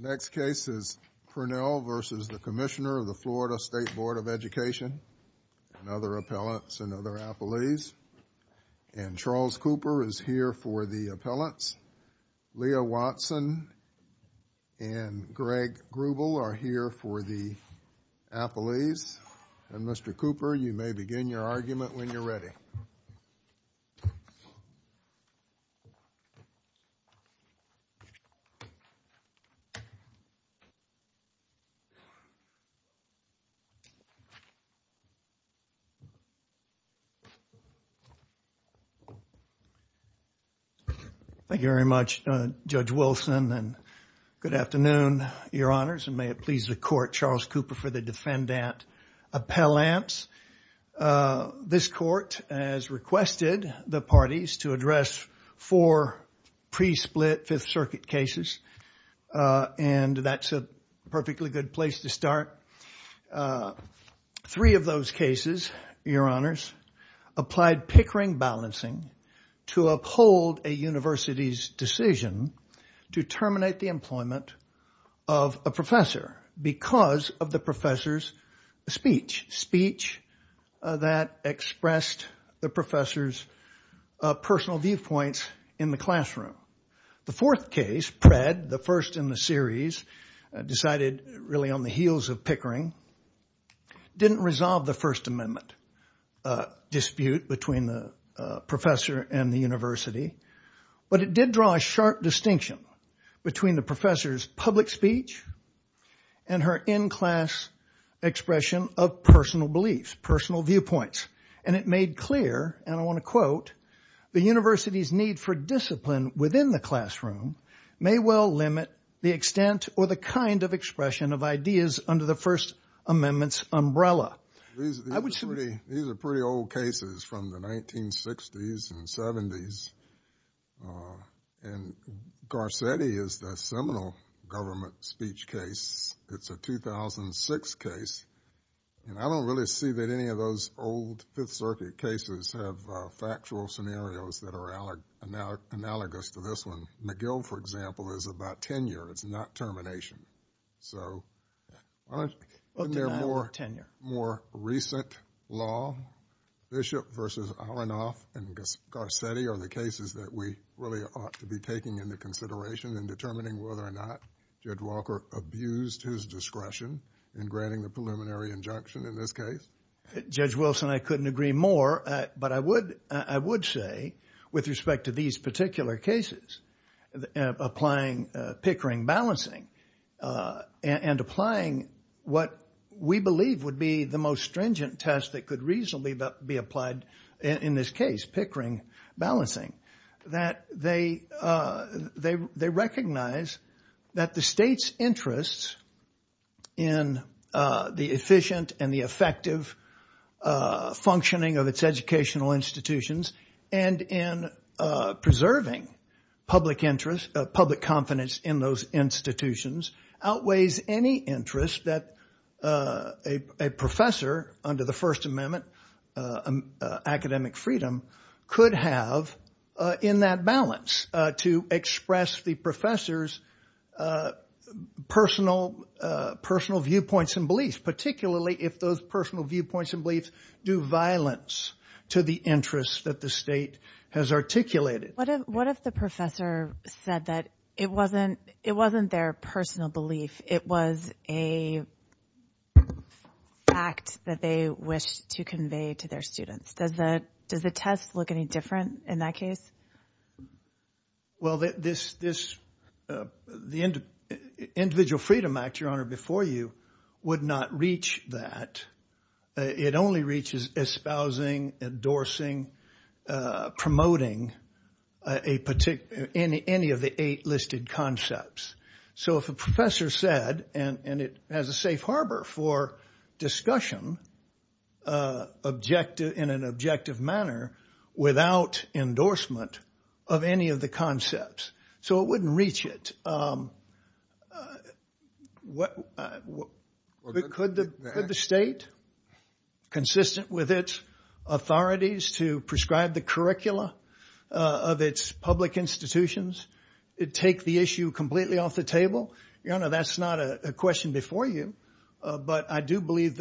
The next case is Pernell v. Commissioner of the Florida State Board of Education and other appellants and other appellees. Charles Cooper is here for the appellants. Leah Watson and Greg Grubel are here for the appellees. Mr. Cooper, you may begin your argument when you're ready. Thank you very much, Judge Wilson, and good afternoon, Your Honors, and may it please the Court, Charles Cooper for the defendant appellants. This Court has requested the parties to address four pre-split Fifth Circuit cases, and that's a perfectly good place to start. Three of those cases, Your Honors, applied Pickering balancing to uphold a university's decision to terminate the employment of a professor because of the professor's speech. Speech that expressed the professor's personal viewpoints in the classroom. The fourth case, Pred, the first in the series, decided really on the heels of Pickering, didn't resolve the First Amendment dispute between the professor and the university, but it did draw a sharp distinction between the professor's public speech and her in-class expression of personal beliefs, personal viewpoints, and it made clear, and I want to quote, the university's need for discipline within the classroom may well limit the extent or the kind of expression of ideas under the First Amendment's umbrella. These are pretty old cases from the 1960s and 70s, and Garcetti is the seminal government speech case. It's a 2006 case, and I don't really see that any of those old Fifth Circuit cases have factual scenarios that are analogous to this one. McGill, for example, is about tenure. It's not termination, so aren't there more recent law? Bishop versus Aronoff and Garcetti are the cases that we really ought to be taking into consideration in determining whether or not Judge Walker abused his discretion in granting the preliminary injunction in this case. Judge Wilson, I couldn't agree more, but I would say, with respect to these particular cases, applying Pickering balancing and applying what we believe would be the most stringent test that could reasonably be applied in this case, Pickering balancing, that they recognize that the state's interests in the efficient and the effective functioning of its educational institutions and in preserving public confidence in those institutions outweighs any interest that a professor under the First Amendment, academic freedom, could have in that balance to express the professor's personal viewpoints and beliefs, particularly if those personal viewpoints and beliefs do violence to the interests that the state has articulated. What if the professor said that it wasn't their personal belief, it was a fact that they wished to convey to their students? Does the test look any different in that case? Well, the Individual Freedom Act, Your Honor, before you would not reach that. It only reaches espousing, endorsing, promoting any of the eight listed concepts. So if a professor said, and it has a safe harbor for discussion in an objective manner without endorsement of any of the concepts, so it wouldn't reach it. Could the state, consistent with its authorities to prescribe the curricula of its public institutions, take the issue completely off the table? Your Honor, that's not a question before you, but I do believe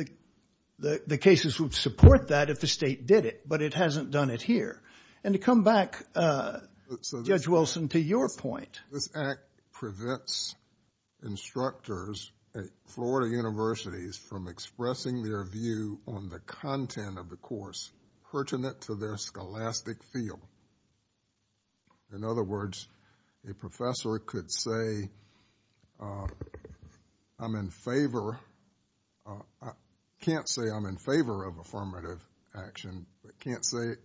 that the cases would support that if the state did it, but it hasn't done it here. And to come back, Judge Wilson, to your point. This act prevents instructors at Florida universities from expressing their view on the content of the course pertinent to their scholastic field. In other words, a professor could say, I'm in favor, can't say I'm in favor of affirmative action, but can't say,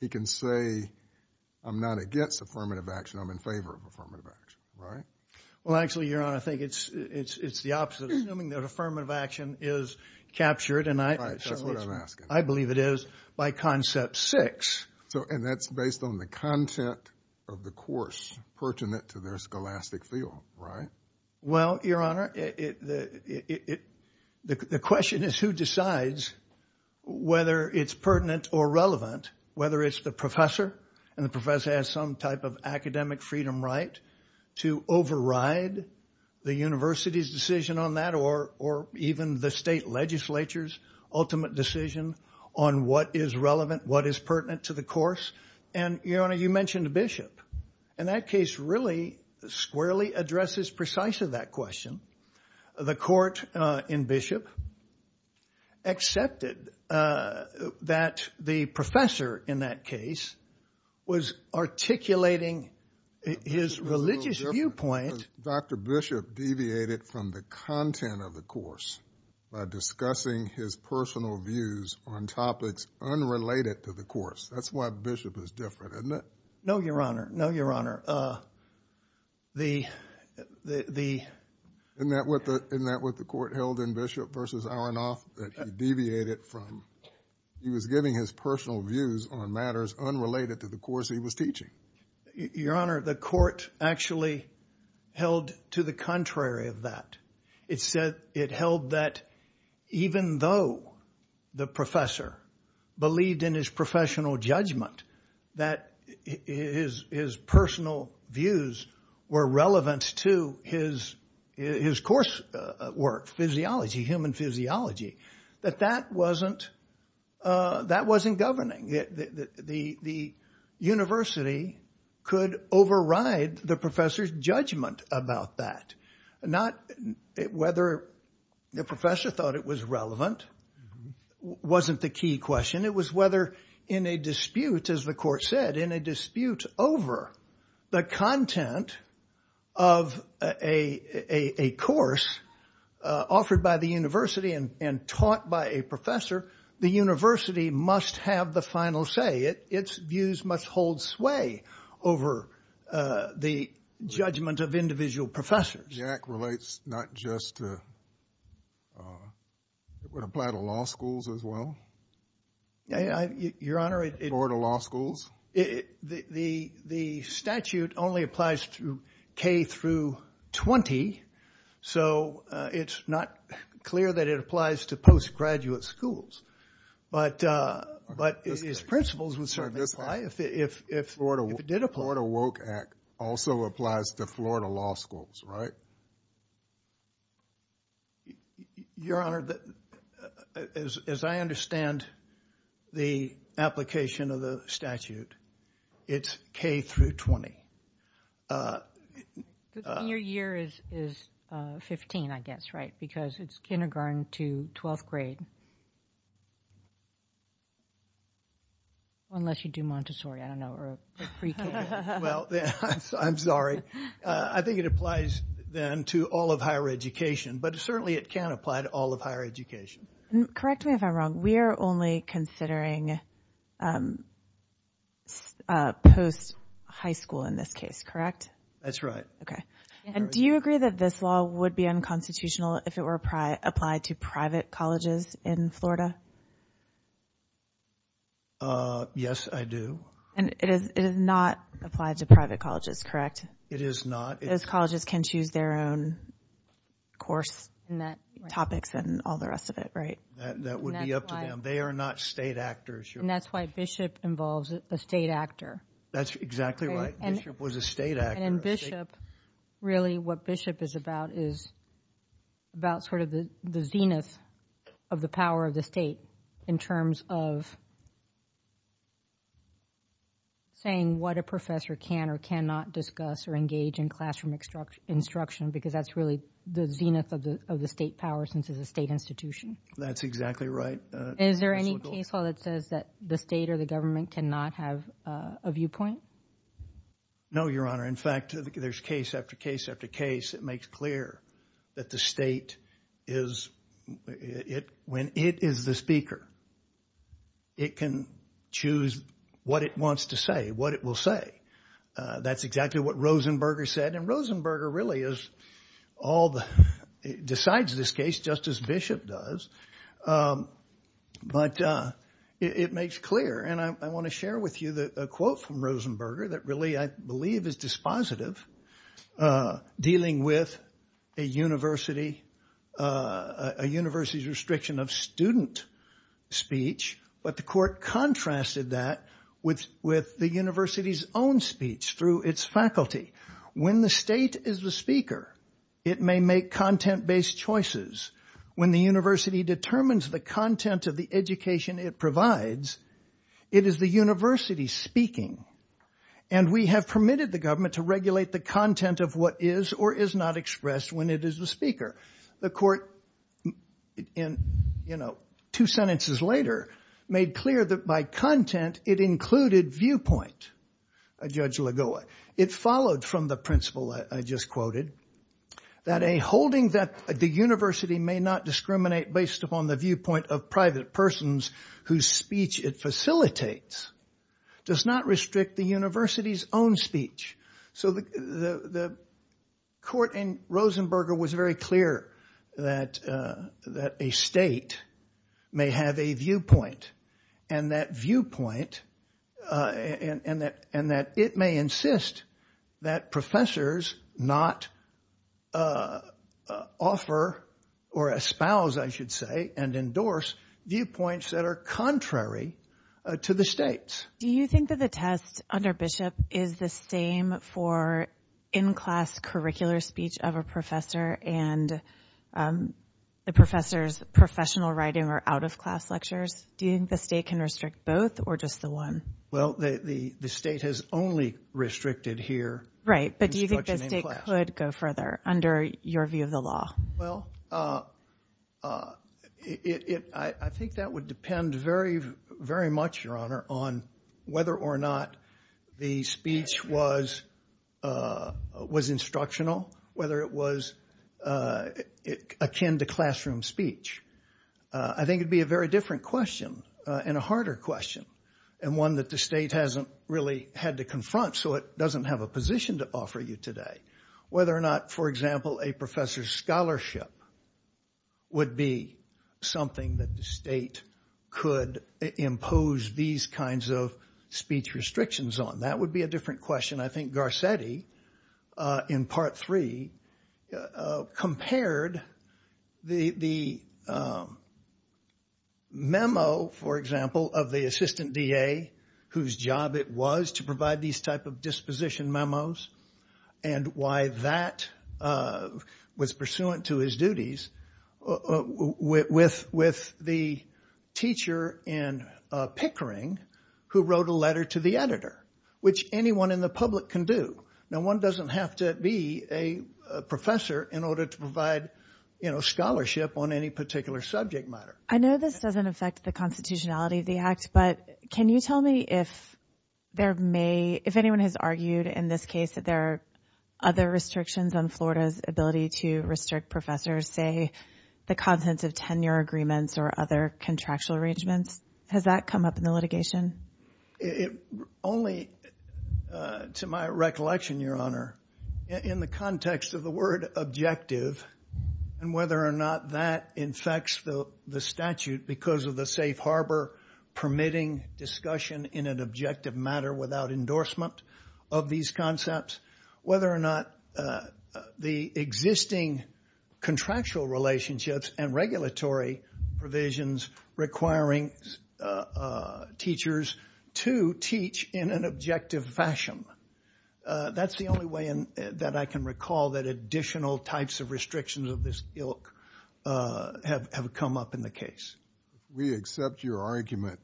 he can say, I'm not against affirmative action, I'm in favor of affirmative action, right? Well, actually, Your Honor, I think it's the opposite. Assuming that affirmative action is captured, and I believe it is, by concept six. And that's based on the content of the course pertinent to their scholastic field, right? Well, Your Honor, the question is who decides whether it's pertinent or relevant. Whether it's the professor, and the professor has some type of academic freedom right to override the university's decision on that, or even the state legislature's ultimate decision on what is relevant, what is pertinent to the course. And, Your Honor, you mentioned Bishop. And that case really squarely addresses precisely that question. The court in Bishop accepted that the professor in that case was articulating his religious viewpoint. Dr. Bishop deviated from the content of the course by discussing his personal views on topics unrelated to the course. That's why Bishop is different, isn't it? No, Your Honor. No, Your Honor. Isn't that what the court held in Bishop v. Aronoff, that he deviated from, he was giving his personal views on matters unrelated to the course he was teaching? Your Honor, the court actually held to the contrary of that. It held that even though the professor believed in his professional judgment, that his personal views were relevant to his coursework, physiology, human physiology, that that wasn't governing. The university could override the professor's judgment about that. Not whether the professor thought it was relevant wasn't the key question. It was whether in a dispute, as the court said, in a dispute over the content of a course offered by the university and taught by a professor, the university must have the final say. Its views must hold sway over the judgment of individual professors. Jack relates not just to, it would apply to law schools as well? Your Honor, it... Or to law schools? The statute only applies to K through 20, so it's not clear that it applies to postgraduate schools. But its principles would certainly apply if it did apply. The Florida WOKE Act also applies to Florida law schools, right? Your Honor, as I understand the application of the statute, it's K through 20. Your year is 15, I guess, right? Because it's kindergarten to 12th grade. Unless you do Montessori, I don't know, or pre-K. Well, I'm sorry. I think it applies then to all of higher education, but certainly it can apply to all of higher education. Correct me if I'm wrong. We are only considering post-high school in this case, correct? That's right. Okay. And do you agree that this law would be unconstitutional if it were applied to private colleges in Florida? Yes, I do. And it is not applied to private colleges, correct? It is not. Those colleges can choose their own course topics and all the rest of it, right? That would be up to them. They are not state actors, Your Honor. And that's why Bishop involves a state actor. That's exactly right. Bishop was a state actor. And in Bishop, really what Bishop is about is about sort of the zenith of the power of the state in terms of saying what a professor can or cannot discuss or engage in classroom instruction because that's really the zenith of the state power since it's a state institution. That's exactly right. Is there any case law that says that the state or the government cannot have a viewpoint? No, Your Honor. In fact, there's case after case after case that makes clear that the state is – when it is the speaker, it can choose what it wants to say, what it will say. That's exactly what Rosenberger said, and Rosenberger really is all the – decides this case just as Bishop does, but it makes clear. And I want to share with you a quote from Rosenberger that really I believe is dispositive, dealing with a university's restriction of student speech. But the court contrasted that with the university's own speech through its faculty. When the state is the speaker, it may make content-based choices. When the university determines the content of the education it provides, it is the university speaking. And we have permitted the government to regulate the content of what is or is not expressed when it is the speaker. The court, two sentences later, made clear that by content, it included viewpoint. Judge Lagoa, it followed from the principle I just quoted, that a holding that the university may not discriminate based upon the viewpoint of private persons whose speech it facilitates does not restrict the university's own speech. So the court in Rosenberger was very clear that a state may have a viewpoint, and that viewpoint – and that it may insist that professors not offer or espouse, I should say, and endorse viewpoints that are contrary to the state's. Do you think that the test under Bishop is the same for in-class curricular speech of a professor and the professor's professional writing or out-of-class lectures? Do you think the state can restrict both or just the one? Well, the state has only restricted here instruction in class. Right, but do you think the state could go further under your view of the law? Well, I think that would depend very much, Your Honor, on whether or not the speech was instructional, whether it was akin to classroom speech. I think it would be a very different question and a harder question, and one that the state hasn't really had to confront, so it doesn't have a position to offer you today. Whether or not, for example, a professor's scholarship would be something that the state could impose these kinds of speech restrictions on, that would be a different question. I think Garcetti, in Part 3, compared the memo, for example, of the assistant DA, whose job it was to provide these type of disposition memos, and why that was pursuant to his duties, with the teacher in Pickering who wrote a letter to the editor, which anyone in the public can do. Now, one doesn't have to be a professor in order to provide scholarship on any particular subject matter. I know this doesn't affect the constitutionality of the act, but can you tell me if anyone has argued, in this case, that there are other restrictions on Florida's ability to restrict professors, say, the contents of tenure agreements or other contractual arrangements? Has that come up in the litigation? Only to my recollection, Your Honor, in the context of the word objective and whether or not that infects the statute because of the safe harbor permitting discussion in an objective matter without endorsement of these concepts, whether or not the existing contractual relationships and regulatory provisions requiring teachers to teach in an objective fashion. That's the only way that I can recall that additional types of restrictions of this ilk have come up in the case. If we accept your argument,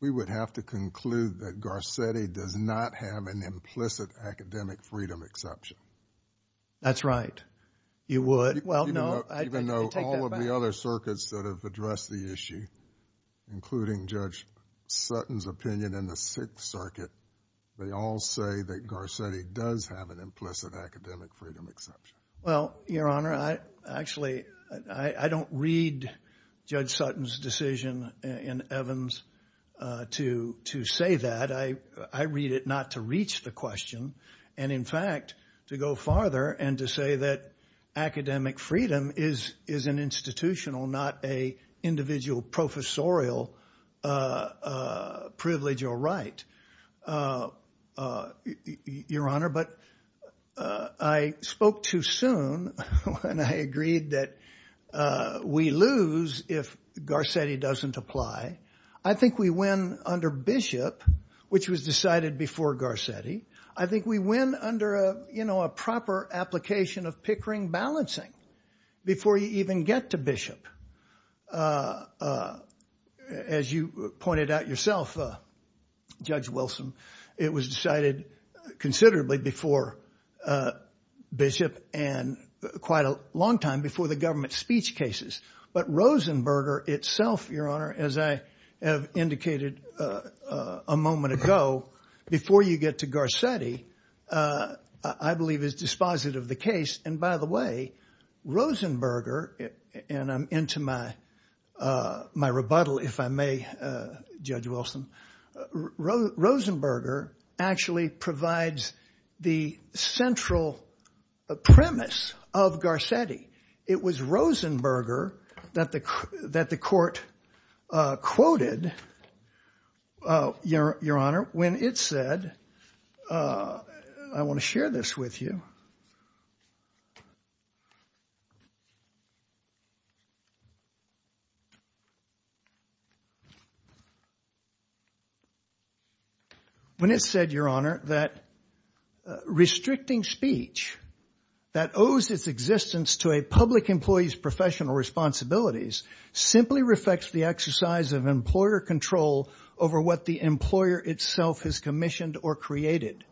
we would have to conclude that Garcetti does not have an implicit academic freedom exception. That's right. You would. Well, no. Even though all of the other circuits that have addressed the issue, including Judge Sutton's opinion in the Sixth Circuit, they all say that Garcetti does have an implicit academic freedom exception. Well, Your Honor, actually, I don't read Judge Sutton's decision in Evans to say that. I read it not to reach the question and, in fact, to go farther and to say that academic freedom is an institutional, not an individual professorial privilege or right, Your Honor. But I spoke too soon when I agreed that we lose if Garcetti doesn't apply. I think we win under Bishop, which was decided before Garcetti. I think we win under a proper application of Pickering balancing before you even get to Bishop. As you pointed out yourself, Judge Wilson, it was decided considerably before Bishop and quite a long time before the government speech cases. But Rosenberger itself, Your Honor, as I have indicated a moment ago, before you get to Garcetti, I believe is dispositive of the case. And by the way, Rosenberger, and I'm into my rebuttal, if I may, Judge Wilson, Rosenberger actually provides the central premise of Garcetti. It was Rosenberger that the court quoted, Your Honor, when it said, I want to share this with you. When it said, Your Honor, that restricting speech that owes its existence to a public employee's professional responsibilities simply reflects the exercise of employer control over what the employer itself has commissioned or created.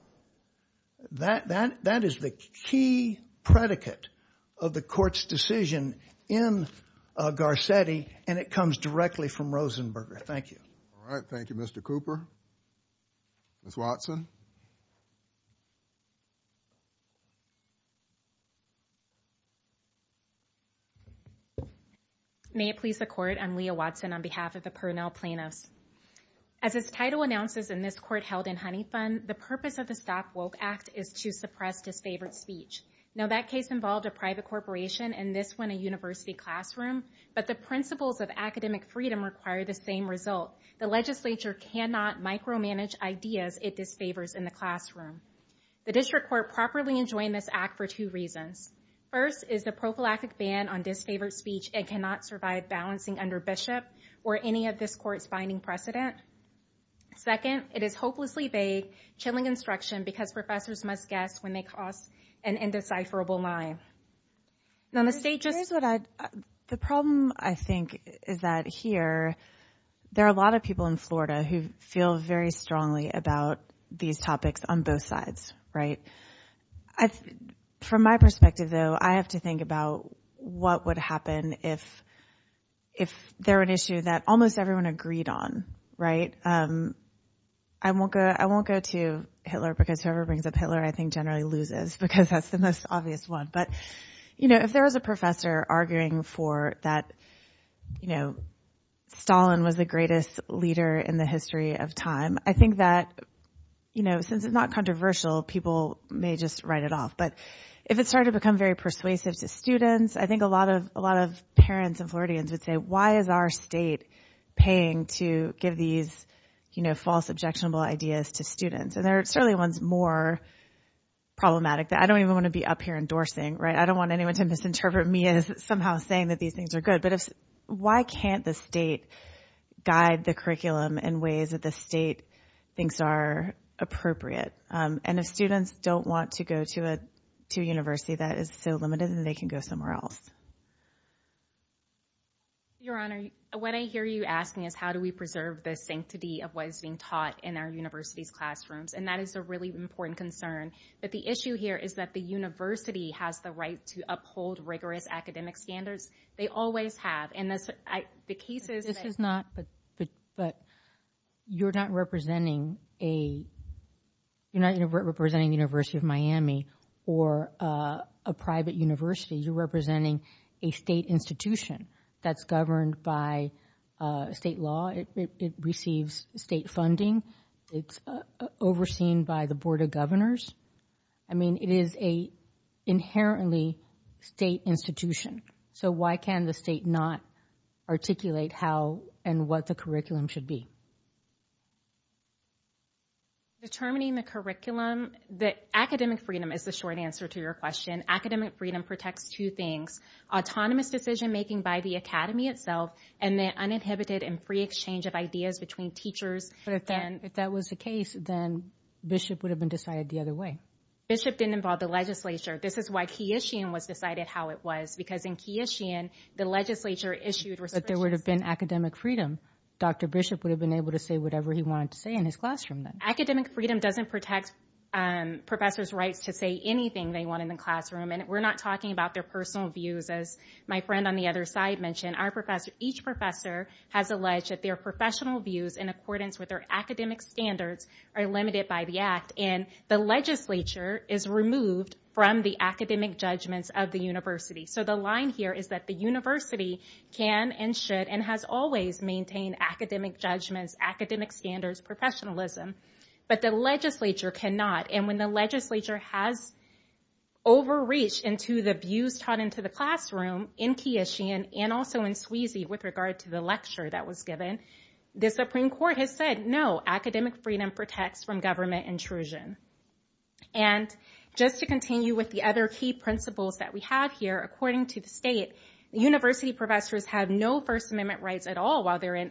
That is the key predicate of the court's decision in Garcetti, and it comes directly from Rosenberger. Thank you. All right. Thank you, Mr. Cooper. Ms. Watson. May it please the Court, I'm Leah Watson on behalf of the Pernell plaintiffs. As its title announces in this court held in Honey Fund, the purpose of the Stop Woke Act is to suppress disfavored speech. Now, that case involved a private corporation and this one a university classroom, but the principles of academic freedom require the same result. The legislature cannot micromanage ideas it disfavors in the classroom. The district court properly enjoined this act for two reasons. First is the prophylactic ban on disfavored speech and cannot survive balancing under Bishop or any of this court's binding precedent. Second, it is hopelessly vague, chilling instruction because professors must guess when they cross an indecipherable line. Now, the state just— The problem, I think, is that here there are a lot of people in Florida who feel very strongly about these topics on both sides, right? From my perspective, though, I have to think about what would happen if there were an issue that almost everyone agreed on, right? I won't go to Hitler because whoever brings up Hitler, I think, generally loses because that's the most obvious one. But if there was a professor arguing for that Stalin was the greatest leader in the history of time, I think that since it's not controversial, people may just write it off. But if it started to become very persuasive to students, I think a lot of parents and Floridians would say, why is our state paying to give these false, objectionable ideas to students? And there are certainly ones more problematic that I don't even want to be up here endorsing, right? I don't want anyone to misinterpret me as somehow saying that these things are good. But why can't the state guide the curriculum in ways that the state thinks are appropriate? And if students don't want to go to a university that is so limited, then they can go somewhere else. Your Honor, what I hear you asking is how do we preserve the sanctity of what is being taught in our university's classrooms? And that is a really important concern. But the issue here is that the university has the right to uphold rigorous academic standards. They always have. And the case is that- This is not- but you're not representing a- you're not representing the University of Miami or a private university. You're representing a state institution that's governed by state law. It receives state funding. It's overseen by the Board of Governors. I mean, it is an inherently state institution. So why can the state not articulate how and what the curriculum should be? Determining the curriculum, the academic freedom is the short answer to your question. Academic freedom protects two things. Autonomous decision making by the academy itself and the uninhibited and free exchange of ideas between teachers. But if that was the case, then Bishop would have been decided the other way. Bishop didn't involve the legislature. This is why Keishian was decided how it was, because in Keishian, the legislature issued- But there would have been academic freedom. Dr. Bishop would have been able to say whatever he wanted to say in his classroom then. Academic freedom doesn't protect professors' rights to say anything they want in the classroom. And we're not talking about their personal views, as my friend on the other side mentioned. Each professor has alleged that their professional views in accordance with their academic standards are limited by the act. And the legislature is removed from the academic judgments of the university. So the line here is that the university can and should and has always maintained academic judgments, academic standards, professionalism. But the legislature cannot. And when the legislature has overreached into the views taught into the classroom in Keishian and also in Sweezy with regard to the lecture that was given, the Supreme Court has said, no, academic freedom protects from government intrusion. And just to continue with the other key principles that we have here, according to the state, university professors have no First Amendment rights at all while they're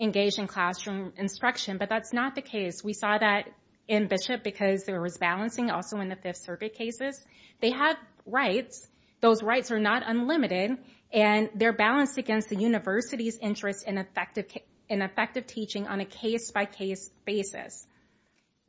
engaged in classroom instruction. But that's not the case. We saw that in Bishop because there was balancing also in the Fifth Circuit cases. They have rights. Those rights are not unlimited. And they're balanced against the university's interest in effective teaching on a case-by-case basis.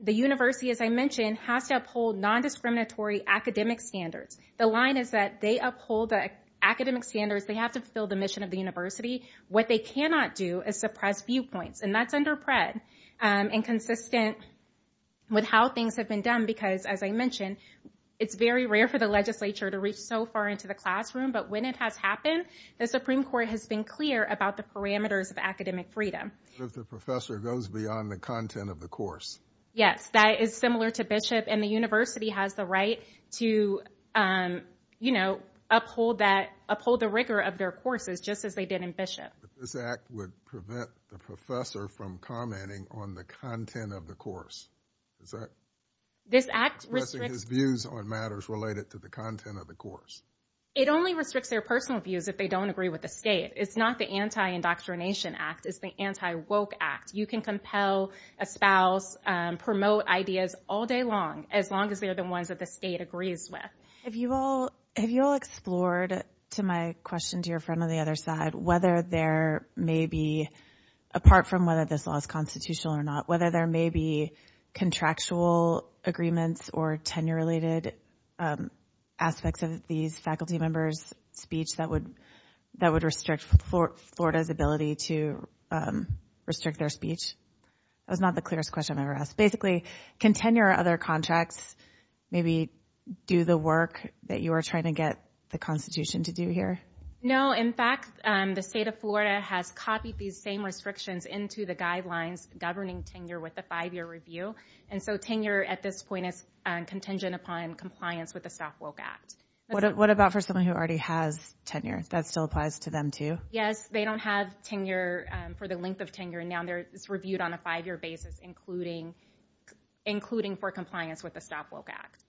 The university, as I mentioned, has to uphold non-discriminatory academic standards. The line is that they uphold the academic standards. They have to fulfill the mission of the university. What they cannot do is suppress viewpoints. And that's under Pratt and consistent with how things have been done because, as I mentioned, it's very rare for the legislature to reach so far into the classroom. But when it has happened, the Supreme Court has been clear about the parameters of academic freedom. The professor goes beyond the content of the course. Yes, that is similar to Bishop. And the university has the right to uphold the rigor of their courses just as they did in Bishop. But this act would prevent the professor from commenting on the content of the course. Is that suppressing his views on matters related to the content of the course? It only restricts their personal views if they don't agree with the state. It's not the Anti-Indoctrination Act. It's the Anti-Woke Act. You can compel a spouse, promote ideas all day long, as long as they are the ones that the state agrees with. Have you all explored, to my question to your friend on the other side, whether there may be, apart from whether this law is constitutional or not, whether there may be contractual agreements or tenure-related aspects of these faculty members' speech that would restrict Florida's ability to restrict their speech? That was not the clearest question I've ever asked. Basically, can tenure or other contracts maybe do the work that you are trying to get the Constitution to do here? No. In fact, the state of Florida has copied these same restrictions into the guidelines governing tenure with a five-year review. And so tenure at this point is contingent upon compliance with the South Woke Act. What about for someone who already has tenure? That still applies to them too? Yes. They don't have tenure for the length of tenure. Now it's reviewed on a five-year basis, including for compliance with the South Woke Act.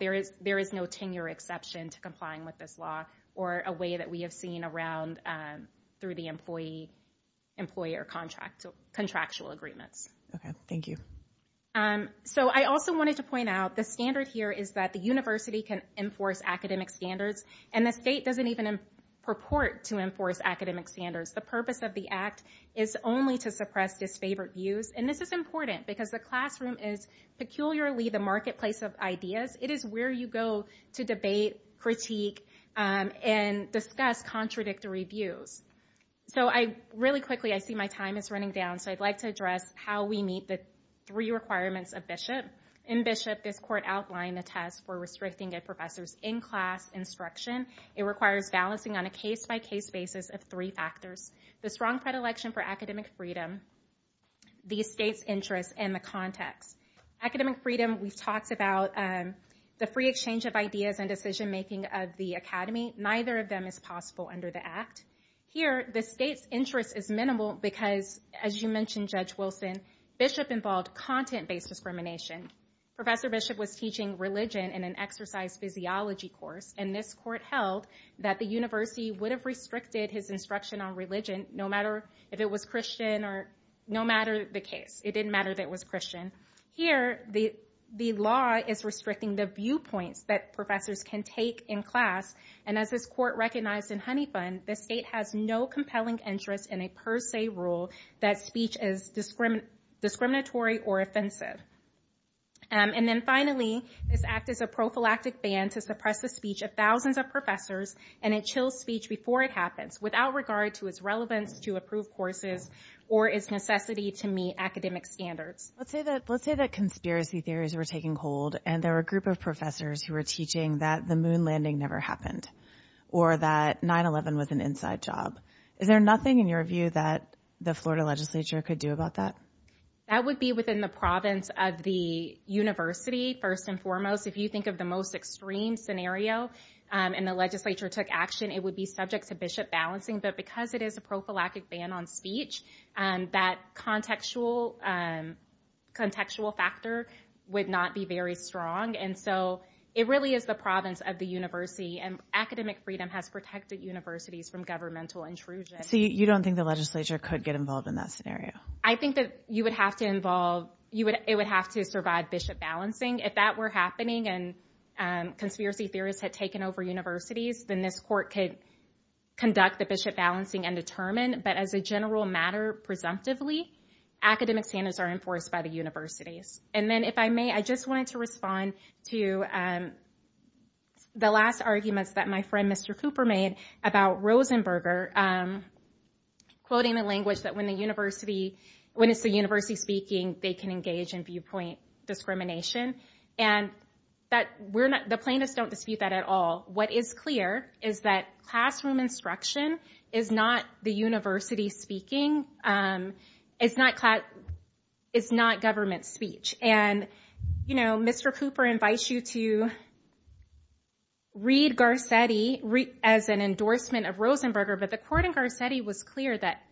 There is no tenure exception to complying with this law or a way that we have seen around through the employee or contractual agreements. Thank you. I also wanted to point out the standard here is that the university can enforce academic standards, and the state doesn't even purport to enforce academic standards. The purpose of the Act is only to suppress disfavored views. And this is important because the classroom is peculiarly the marketplace of ideas. It is where you go to debate, critique, and discuss contradictory views. Really quickly, I see my time is running down, so I'd like to address how we meet the three requirements of Bishop. In Bishop, this court outlined a test for restricting a professor's in-class instruction. It requires balancing on a case-by-case basis of three factors. The strong predilection for academic freedom, the state's interest, and the context. Academic freedom, we've talked about the free exchange of ideas and decision-making of the academy. Neither of them is possible under the Act. Here, the state's interest is minimal because, as you mentioned, Judge Wilson, Bishop involved content-based discrimination. Professor Bishop was teaching religion in an exercise physiology course, and this court held that the university would have restricted his instruction on religion, no matter if it was Christian or no matter the case. It didn't matter that it was Christian. Here, the law is restricting the viewpoints that professors can take in class. And as this court recognized in Honeybun, the state has no compelling interest in a per se rule that speech is discriminatory or offensive. And then finally, this Act is a prophylactic ban to suppress the speech of thousands of professors, and it chills speech before it happens, without regard to its relevance to approved courses or its necessity to meet academic standards. Let's say that conspiracy theories were taking hold, and there were a group of professors who were teaching that the moon landing never happened, or that 9-11 was an inside job. Is there nothing in your view that the Florida legislature could do about that? That would be within the province of the university, first and foremost. If you think of the most extreme scenario, and the legislature took action, it would be subject to Bishop balancing. But because it is a prophylactic ban on speech, that contextual factor would not be very strong. And so it really is the province of the university, and academic freedom has protected universities from governmental intrusion. So you don't think the legislature could get involved in that scenario? I think that it would have to survive Bishop balancing. If that were happening, and conspiracy theorists had taken over universities, then this court could conduct the Bishop balancing and determine. But as a general matter, presumptively, academic standards are enforced by the universities. And then if I may, I just wanted to respond to the last arguments that my friend Mr. Cooper made about Rosenberger, quoting the language that when it's the university speaking, they can engage in viewpoint discrimination. And the plaintiffs don't dispute that at all. What is clear is that classroom instruction is not the university speaking, is not government speech. And Mr. Cooper invites you to read Garcetti as an endorsement of Rosenberger, but the court in Garcetti was clear that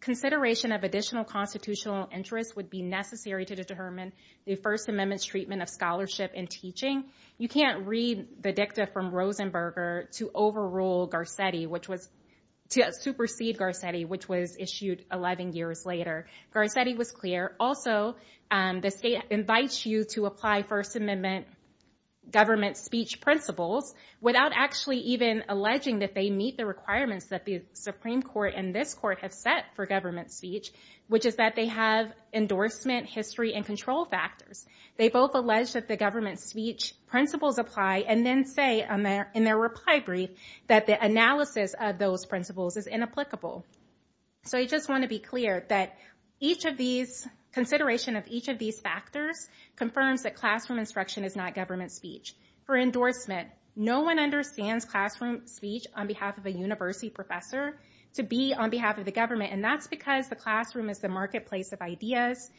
consideration of additional constitutional interest would be necessary to determine the First Amendment's treatment of scholarship and teaching. You can't read the dicta from Rosenberger to overrule Garcetti, which was, to supersede Garcetti, which was issued 11 years later. Garcetti was clear. Also, the state invites you to apply First Amendment government speech principles without actually even alleging that they meet the requirements that the Supreme Court and this court have set for government speech, which is that they have endorsement, history, and control factors. They both allege that the government speech principles apply and then say in their reply brief that the analysis of those principles is inapplicable. So I just want to be clear that consideration of each of these factors confirms that classroom instruction is not government speech. For endorsement, no one understands classroom speech on behalf of a university professor to be on behalf of the government, and that's because the classroom is the marketplace of ideas.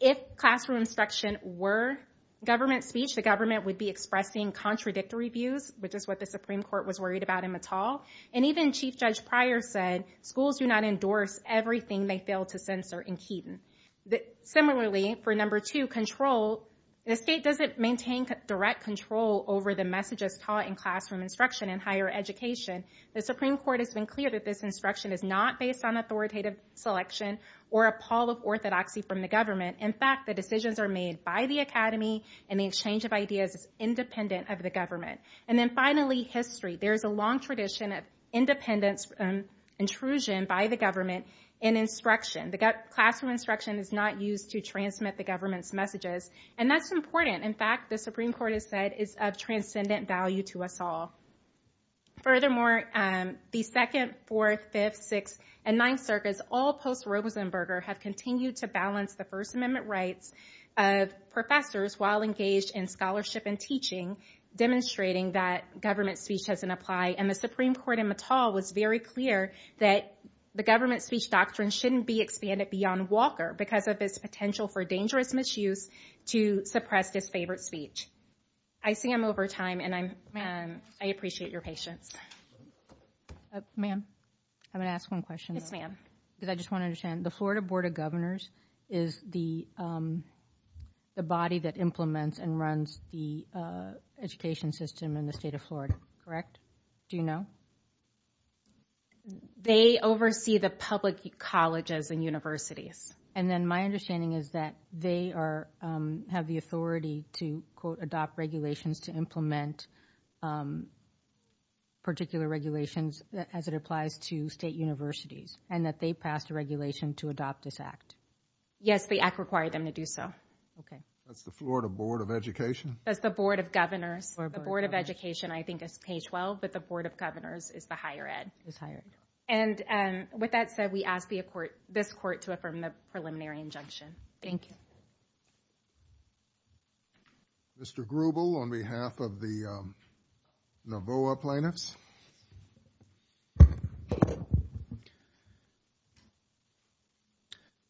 If classroom instruction were government speech, the government would be expressing contradictory views, which is what the Supreme Court was worried about in Mattal. And even Chief Judge Pryor said schools do not endorse everything they fail to censor in Keaton. Similarly, for number two, control, the state doesn't maintain direct control over the messages taught in classroom instruction in higher education. The Supreme Court has been clear that this instruction is not based on authoritative selection or a pall of orthodoxy from the government. In fact, the decisions are made by the academy, and the exchange of ideas is independent of the government. And then finally, history. There's a long tradition of independence intrusion by the government in instruction. The classroom instruction is not used to transmit the government's messages, and that's important. In fact, the Supreme Court has said it's of transcendent value to us all. Furthermore, the second, fourth, fifth, sixth, and ninth circuits, all post-Rosenberger, have continued to balance the First Amendment rights of professors while engaged in scholarship and teaching, demonstrating that government speech doesn't apply. And the Supreme Court in Mattal was very clear that the government speech doctrine shouldn't be expanded beyond Walker because of its potential for dangerous misuse to suppress his favorite speech. I see I'm over time, and I appreciate your patience. Ma'am, I'm going to ask one question. Yes, ma'am. Because I just want to understand, the Florida Board of Governors is the body that implements and runs the education system in the state of Florida, correct? Do you know? They oversee the public colleges and universities. And then my understanding is that they have the authority to, quote, adopt regulations to implement particular regulations as it applies to state universities, and that they passed a regulation to adopt this act. Yes, the act required them to do so. Okay. That's the Florida Board of Education? That's the Board of Governors. The Board of Education, I think, is page 12, but the Board of Governors is the higher ed. It's higher ed. And with that said, we ask this court to affirm the preliminary injunction. Thank you. Mr. Grubel, on behalf of the Navoa plaintiffs.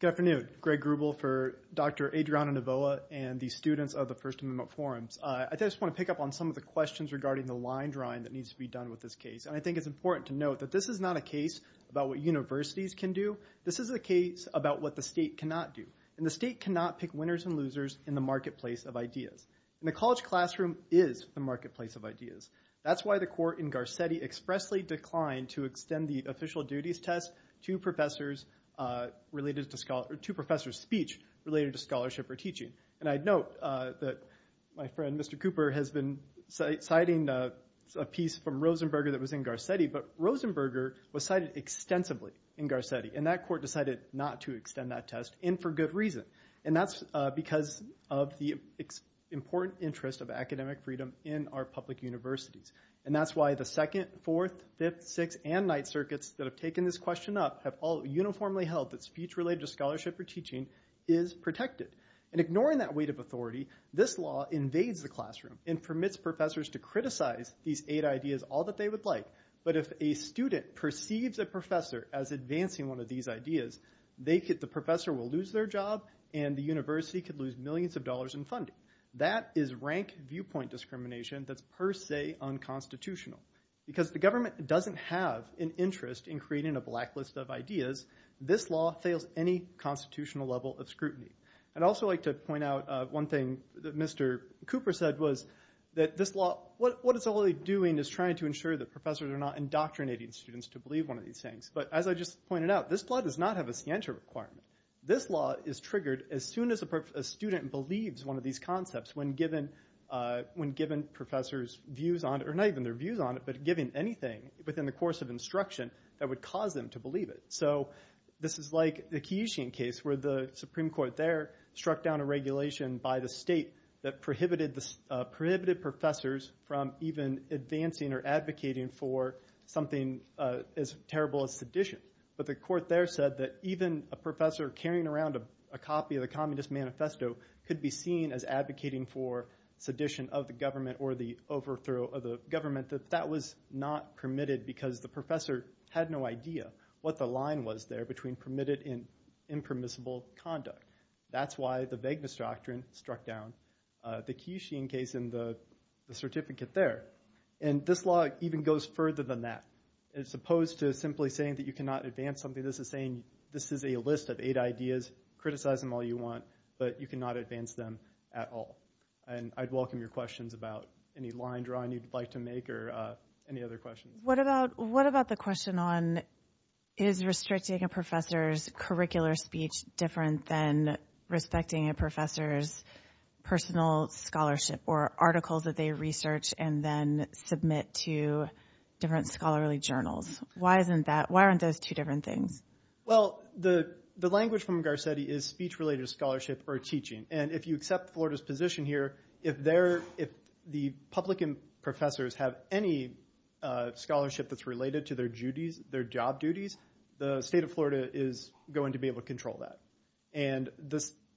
Good afternoon. Greg Grubel for Dr. Adriana Navoa and the students of the First Amendment Forums. I just want to pick up on some of the questions regarding the line drawing that needs to be done with this case. And I think it's important to note that this is not a case about what universities can do. This is a case about what the state cannot do. And the state cannot pick winners and losers in the marketplace of ideas. And the college classroom is the marketplace of ideas. That's why the court in Garcetti expressly declined to extend the official duties test to professors' speech related to scholarship or teaching. And I'd note that my friend Mr. Cooper has been citing a piece from Rosenberger that was in Garcetti. But Rosenberger was cited extensively in Garcetti. And that court decided not to extend that test, and for good reason. And that's because of the important interest of academic freedom in our public universities. And that's why the second, fourth, fifth, sixth, and ninth circuits that have taken this question up have all uniformly held that speech related to scholarship or teaching is protected. And ignoring that weight of authority, this law invades the classroom and permits professors to criticize these eight ideas all that they would like. But if a student perceives a professor as advancing one of these ideas, the professor will lose their job, and the university could lose millions of dollars in funding. That is rank viewpoint discrimination that's per se unconstitutional. Because the government doesn't have an interest in creating a blacklist of ideas, this law fails any constitutional level of scrutiny. I'd also like to point out one thing that Mr. Cooper said was that this law, what it's only doing is trying to ensure that professors are not indoctrinating students to believe one of these things. But as I just pointed out, this law does not have a scienter requirement. This law is triggered as soon as a student believes one of these concepts when given professors' views on it, or not even their views on it, but given anything within the course of instruction that would cause them to believe it. So this is like the Keyesian case where the Supreme Court there struck down a regulation by the state that prohibited professors from even advancing or advocating for something as terrible as sedition. But the court there said that even a professor carrying around a copy of the Communist Manifesto could be seen as advocating for sedition of the government or the overthrow of the government. That that was not permitted because the professor had no idea what the line was there between permitted and impermissible conduct. That's why the Wegener doctrine struck down the Keyesian case in the certificate there. And this law even goes further than that. As opposed to simply saying that you cannot advance something, this is saying this is a list of eight ideas. Criticize them all you want, but you cannot advance them at all. And I'd welcome your questions about any line drawing you'd like to make or any other questions. What about the question on is restricting a professor's curricular speech different than respecting a professor's personal scholarship or articles that they research and then submit to different scholarly journals? Why aren't those two different things? Well, the language from Garcetti is speech-related scholarship or teaching. And if you accept Florida's position here, if the public professors have any scholarship that's related to their duties, their job duties, the state of Florida is going to be able to control that. And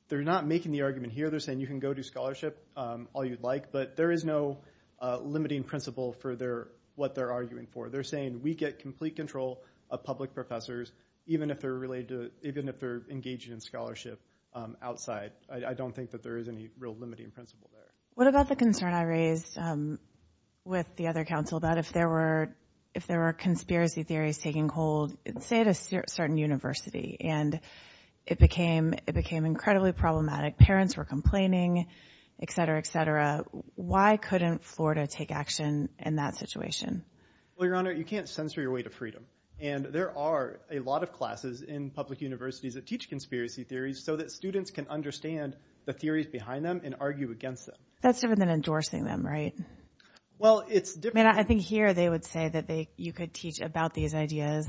they're not making the argument here. They're saying you can go do scholarship all you'd like, but there is no limiting principle for what they're arguing for. They're saying we get complete control of public professors even if they're engaging in scholarship outside. I don't think that there is any real limiting principle there. What about the concern I raised with the other council that if there were conspiracy theories taking hold, say at a certain university, and it became incredibly problematic, parents were complaining, et cetera, et cetera, why couldn't Florida take action in that situation? Well, Your Honor, you can't censor your way to freedom. And there are a lot of classes in public universities that teach conspiracy theories so that students can understand the theories behind them and argue against them. That's different than endorsing them, right? I think here they would say that you could teach about these ideas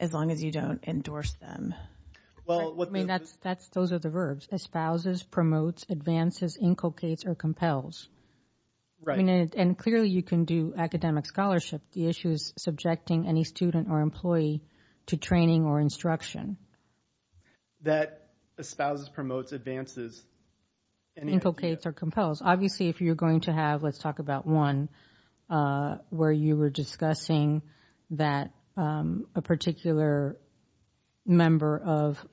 as long as you don't endorse them. Those are the verbs, espouses, promotes, advances, inculcates, or compels. And clearly you can do academic scholarship. The issue is subjecting any student or employee to training or instruction. That espouses, promotes, advances. Inculcates or compels. Obviously if you're going to have, let's talk about one, where you were discussing that a particular member of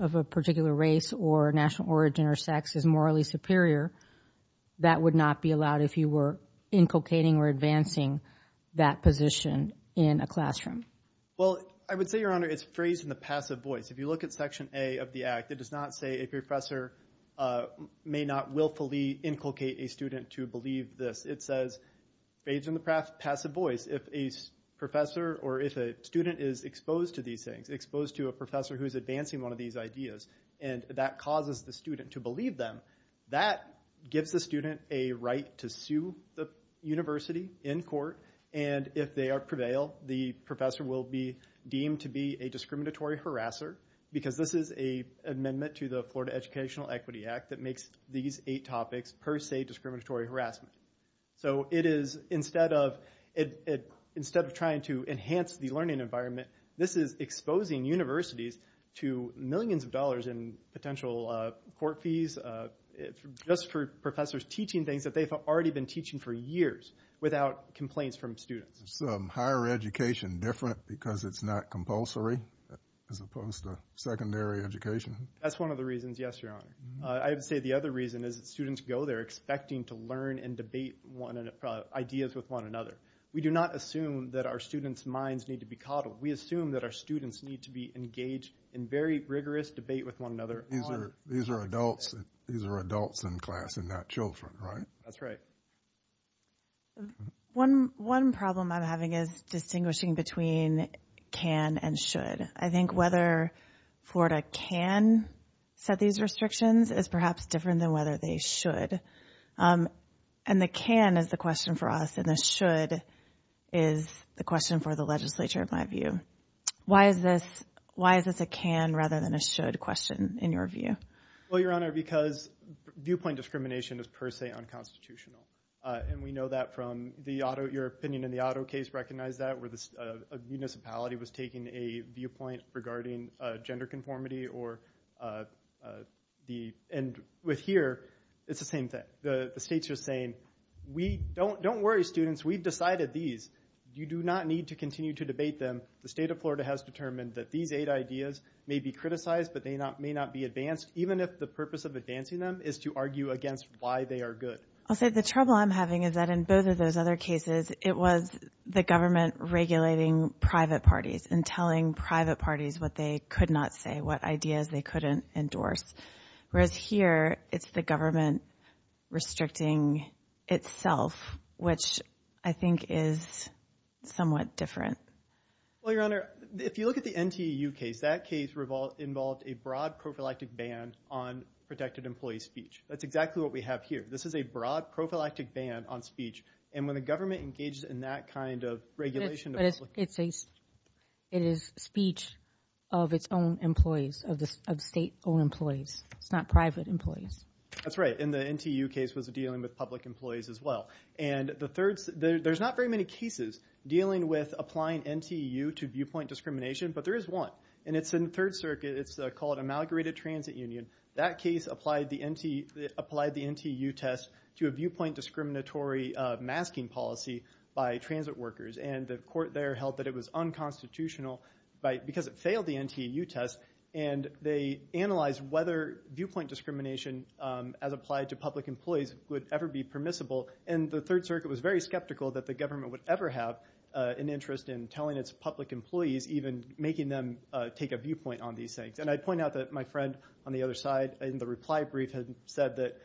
a particular race or national origin or sex is morally superior, that would not be allowed if you were inculcating or advancing that position in a classroom. Well, I would say, Your Honor, it's phrased in the passive voice. If you look at Section A of the Act, it does not say a professor may not willfully inculcate a student to believe this. It says phrased in the passive voice. If a professor or if a student is exposed to these things, exposed to a professor who is advancing one of these ideas, and that causes the student to believe them, that gives the student a right to sue the university in court. And if they prevail, the professor will be deemed to be a discriminatory harasser. Because this is an amendment to the Florida Educational Equity Act that makes these eight topics per se discriminatory harassment. So it is, instead of trying to enhance the learning environment, this is exposing universities to millions of dollars in potential court fees just for professors teaching things that they've already been teaching for years without complaints from students. Is higher education different because it's not compulsory as opposed to secondary education? That's one of the reasons, yes, Your Honor. I would say the other reason is that students go there expecting to learn and debate ideas with one another. We do not assume that our students' minds need to be coddled. We assume that our students need to be engaged in very rigorous debate with one another. These are adults in class and not children, right? That's right. One problem I'm having is distinguishing between can and should. I think whether Florida can set these restrictions is perhaps different than whether they should. And the can is the question for us, and the should is the question for the legislature, in my view. Why is this a can rather than a should question, in your view? Well, Your Honor, because viewpoint discrimination is per se unconstitutional. And we know that from your opinion in the auto case, recognize that, where a municipality was taking a viewpoint regarding gender conformity. And with here, it's the same thing. The state's just saying, don't worry, students, we've decided these. You do not need to continue to debate them. The state of Florida has determined that these eight ideas may be criticized, but they may not be advanced, even if the purpose of advancing them is to argue against why they are good. I'll say the trouble I'm having is that in both of those other cases, it was the government regulating private parties and telling private parties what they could not say, what ideas they couldn't endorse. Whereas here, it's the government restricting itself, which I think is somewhat different. Well, Your Honor, if you look at the NTU case, that case involved a broad prophylactic ban on protected employee speech. That's exactly what we have here. This is a broad prophylactic ban on speech. And when the government engages in that kind of regulation, it is speech of its own employees, of state-owned employees. It's not private employees. That's right. And the NTU case was dealing with public employees as well. And there's not very many cases dealing with applying NTU to viewpoint discrimination, but there is one. And it's in Third Circuit. It's called Inaugurated Transit Union. That case applied the NTU test to a viewpoint discriminatory masking policy by transit workers. And the court there held that it was unconstitutional because it failed the NTU test. And they analyzed whether viewpoint discrimination, as applied to public employees, would ever be permissible. And the Third Circuit was very skeptical that the government would ever have an interest in telling its public employees, even making them take a viewpoint on these things. And I'd point out that my friend on the other side in the reply brief had said that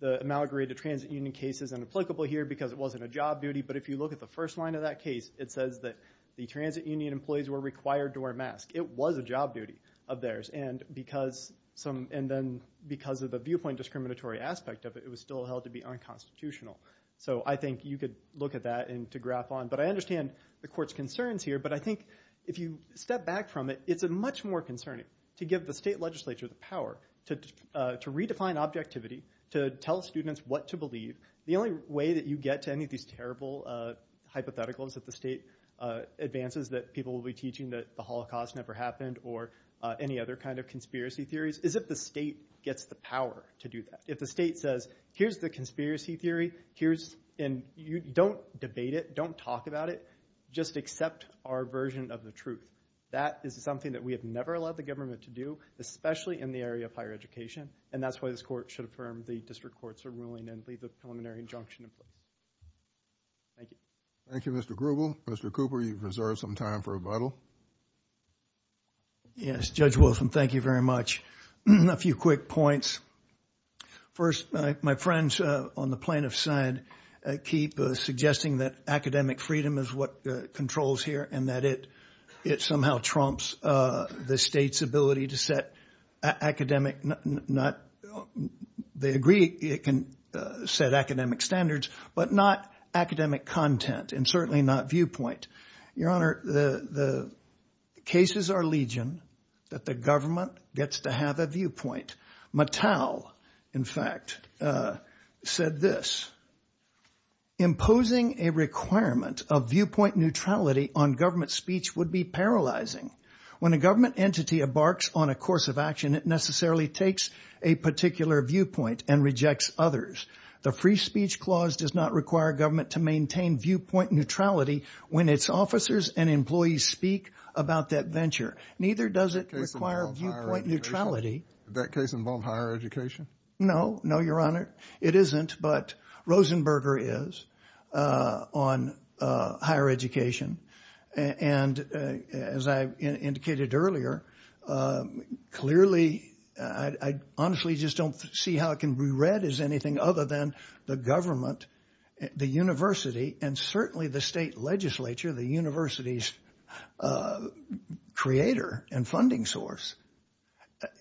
the Inaugurated Transit Union case is inapplicable here because it wasn't a job duty. But if you look at the first line of that case, it says that the transit union employees were required to wear masks. It was a job duty of theirs. And because of the viewpoint discriminatory aspect of it, it was still held to be unconstitutional. So I think you could look at that to graph on. But I understand the court's concerns here. But I think if you step back from it, it's much more concerning to give the state legislature the power to redefine objectivity, to tell students what to believe. The only way that you get to any of these terrible hypotheticals that the state advances that people will be teaching that the Holocaust never happened or any other kind of conspiracy theories is if the state gets the power to do that. If the state says, here's the conspiracy theory. Don't debate it. Don't talk about it. Just accept our version of the truth. That is something that we have never allowed the government to do, especially in the area of higher education. And that's why this court should affirm the district courts are ruling and leave the preliminary injunction. Thank you. Thank you, Mr. Grubel. Mr. Cooper, you've reserved some time for rebuttal. Yes, Judge Wilson, thank you very much. A few quick points. First, my friends on the plaintiff's side keep suggesting that academic freedom is what they agree can set academic standards, but not academic content and certainly not viewpoint. Your Honor, the cases are legion that the government gets to have a viewpoint. Mattel, in fact, said this. Imposing a requirement of viewpoint neutrality on government speech would be paralyzing. When a government entity embarks on a course of action, it necessarily takes a particular viewpoint and rejects others. The free speech clause does not require government to maintain viewpoint neutrality when its officers and employees speak about that venture. Neither does it require viewpoint neutrality. Did that case involve higher education? No. No, Your Honor. It isn't, but Rosenberger is on higher education. And as I indicated earlier, clearly I honestly just don't see how it can be read as anything other than the government, the university, and certainly the state legislature, the university's creator and funding source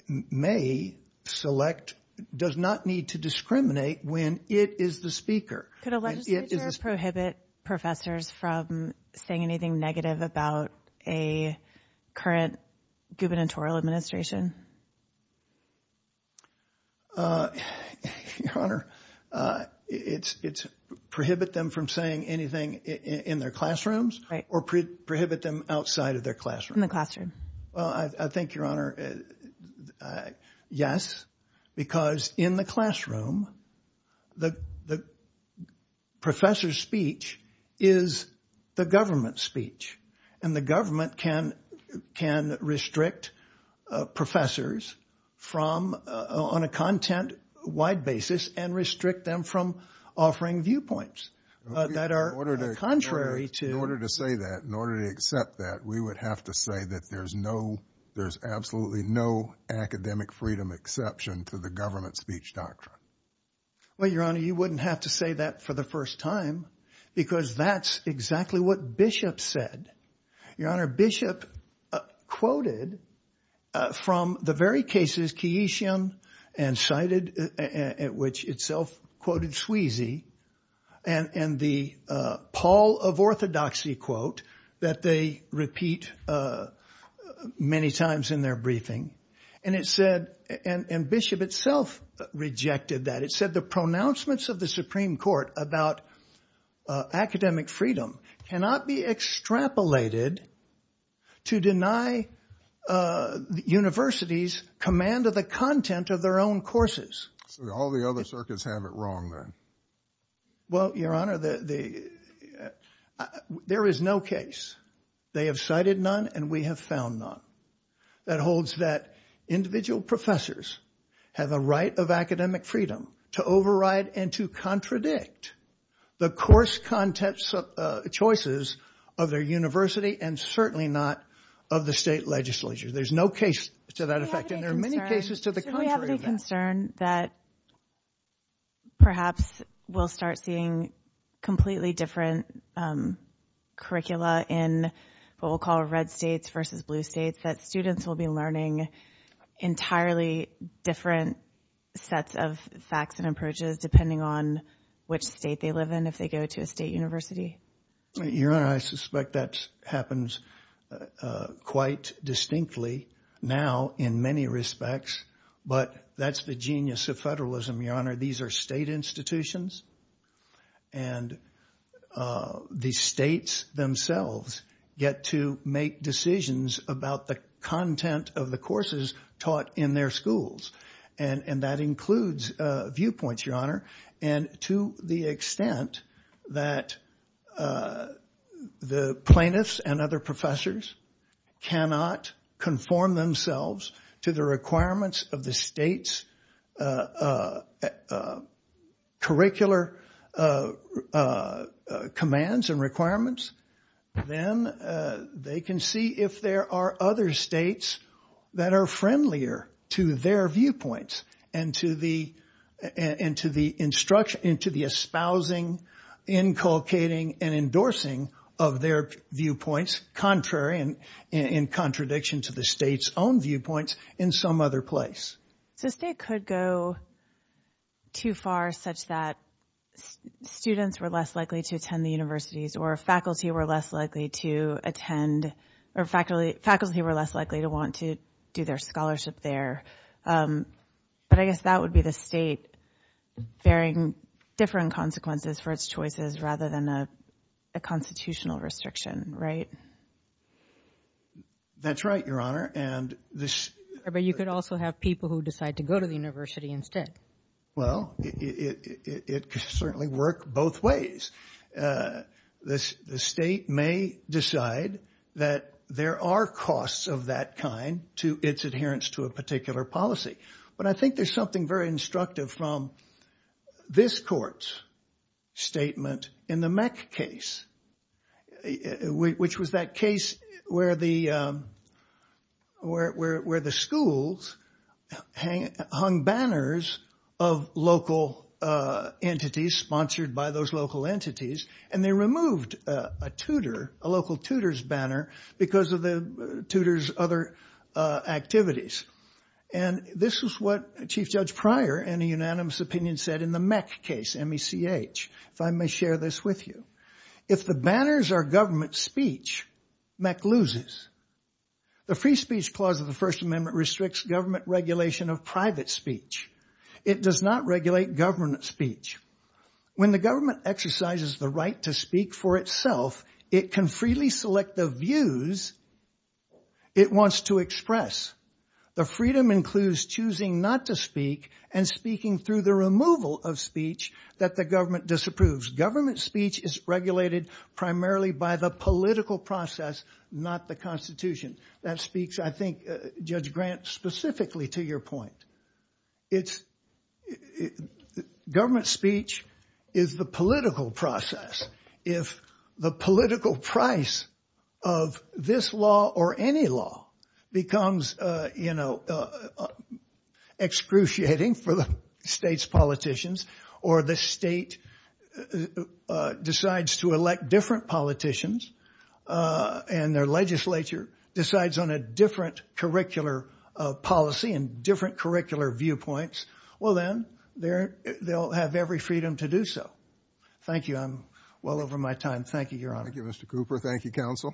may select, does not need to discriminate when it is the speaker. Could a legislature prohibit professors from saying anything negative about a current gubernatorial administration? Your Honor, it's prohibit them from saying anything in their classrooms or prohibit them outside of their classrooms. In the classroom. Well, I think, Your Honor, yes, because in the classroom, the professor's speech is the government's speech. And the government can restrict professors from, on a content-wide basis, and restrict them from offering viewpoints. In order to say that, in order to accept that, we would have to say that there's no, there's absolutely no academic freedom exception to the government speech doctrine. Well, Your Honor, you wouldn't have to say that for the first time because that's exactly what Bishop said. Your Honor, Bishop quoted from the very cases, Keyesian and cited, at which itself quoted Sweezy, and the Paul of Orthodoxy quote that they repeat many times in their briefing. And it said, and Bishop itself rejected that, it said the pronouncements of the Supreme Court about academic freedom cannot be extrapolated to deny universities command of the content of their own courses. So all the other circuits have it wrong then? Well, Your Honor, there is no case. They have cited none and we have found none that holds that individual professors have a right of academic freedom to override and to contradict the course content choices of their university and certainly not of the state legislature. There's no case to that effect and there are many cases to the contrary of that. Do we have any concern that perhaps we'll start seeing completely different curricula in what we'll call red states versus blue states, that students will be learning entirely different sets of facts and approaches depending on which state they live in if they go to a state university? Your Honor, I suspect that happens quite distinctly now in many respects, but that's the genius of federalism, Your Honor. These are state institutions and the states themselves get to make decisions about the content of the courses taught in their schools. And that includes viewpoints, Your Honor, and to the extent that the plaintiffs and other professors cannot conform themselves to the requirements of the state's curricular commands and requirements, then they can see if there are other states that are friendlier to their viewpoints and to the espousing, inculcating, and endorsing of their viewpoints contrary and in contradiction to the state's own viewpoints in some other place. So the state could go too far such that students were less likely to attend the universities or faculty were less likely to attend or faculty were less likely to want to do their scholarship there. But I guess that would be the state bearing different consequences for its choices rather than a constitutional restriction, right? That's right, Your Honor. But you could also have people who decide to go to the university instead. Well, it could certainly work both ways. The state may decide that there are costs of that kind to its adherence to a particular policy. But I think there's something very instructive from this court's statement in the Meck case, which was that case where the schools hung banners of local entities, sponsored by those local entities, and they removed a tutor, a local tutor's banner, because of the tutor's other activities. And this is what Chief Judge Pryor, in a unanimous opinion, said in the Meck case, M-E-C-H, if I may share this with you. If the banners are government speech, Meck loses. The Free Speech Clause of the First Amendment restricts government regulation of private speech. It does not regulate government speech. When the government exercises the right to speak for itself, it can freely select the views it wants to express. The freedom includes choosing not to speak and speaking through the removal of speech that the government disapproves. Government speech is regulated primarily by the political process, not the Constitution. That speaks, I think, Judge Grant, specifically to your point. Government speech is the political process. If the political price of this law or any law becomes, you know, excruciating for the state's politicians, or the state decides to elect different politicians, and their legislature decides on a different curricular policy and different curricular viewpoints, well then, they'll have every freedom to do so. Thank you. I'm well over my time. Thank you, Your Honor. Thank you, Mr. Cooper. Thank you, Counsel.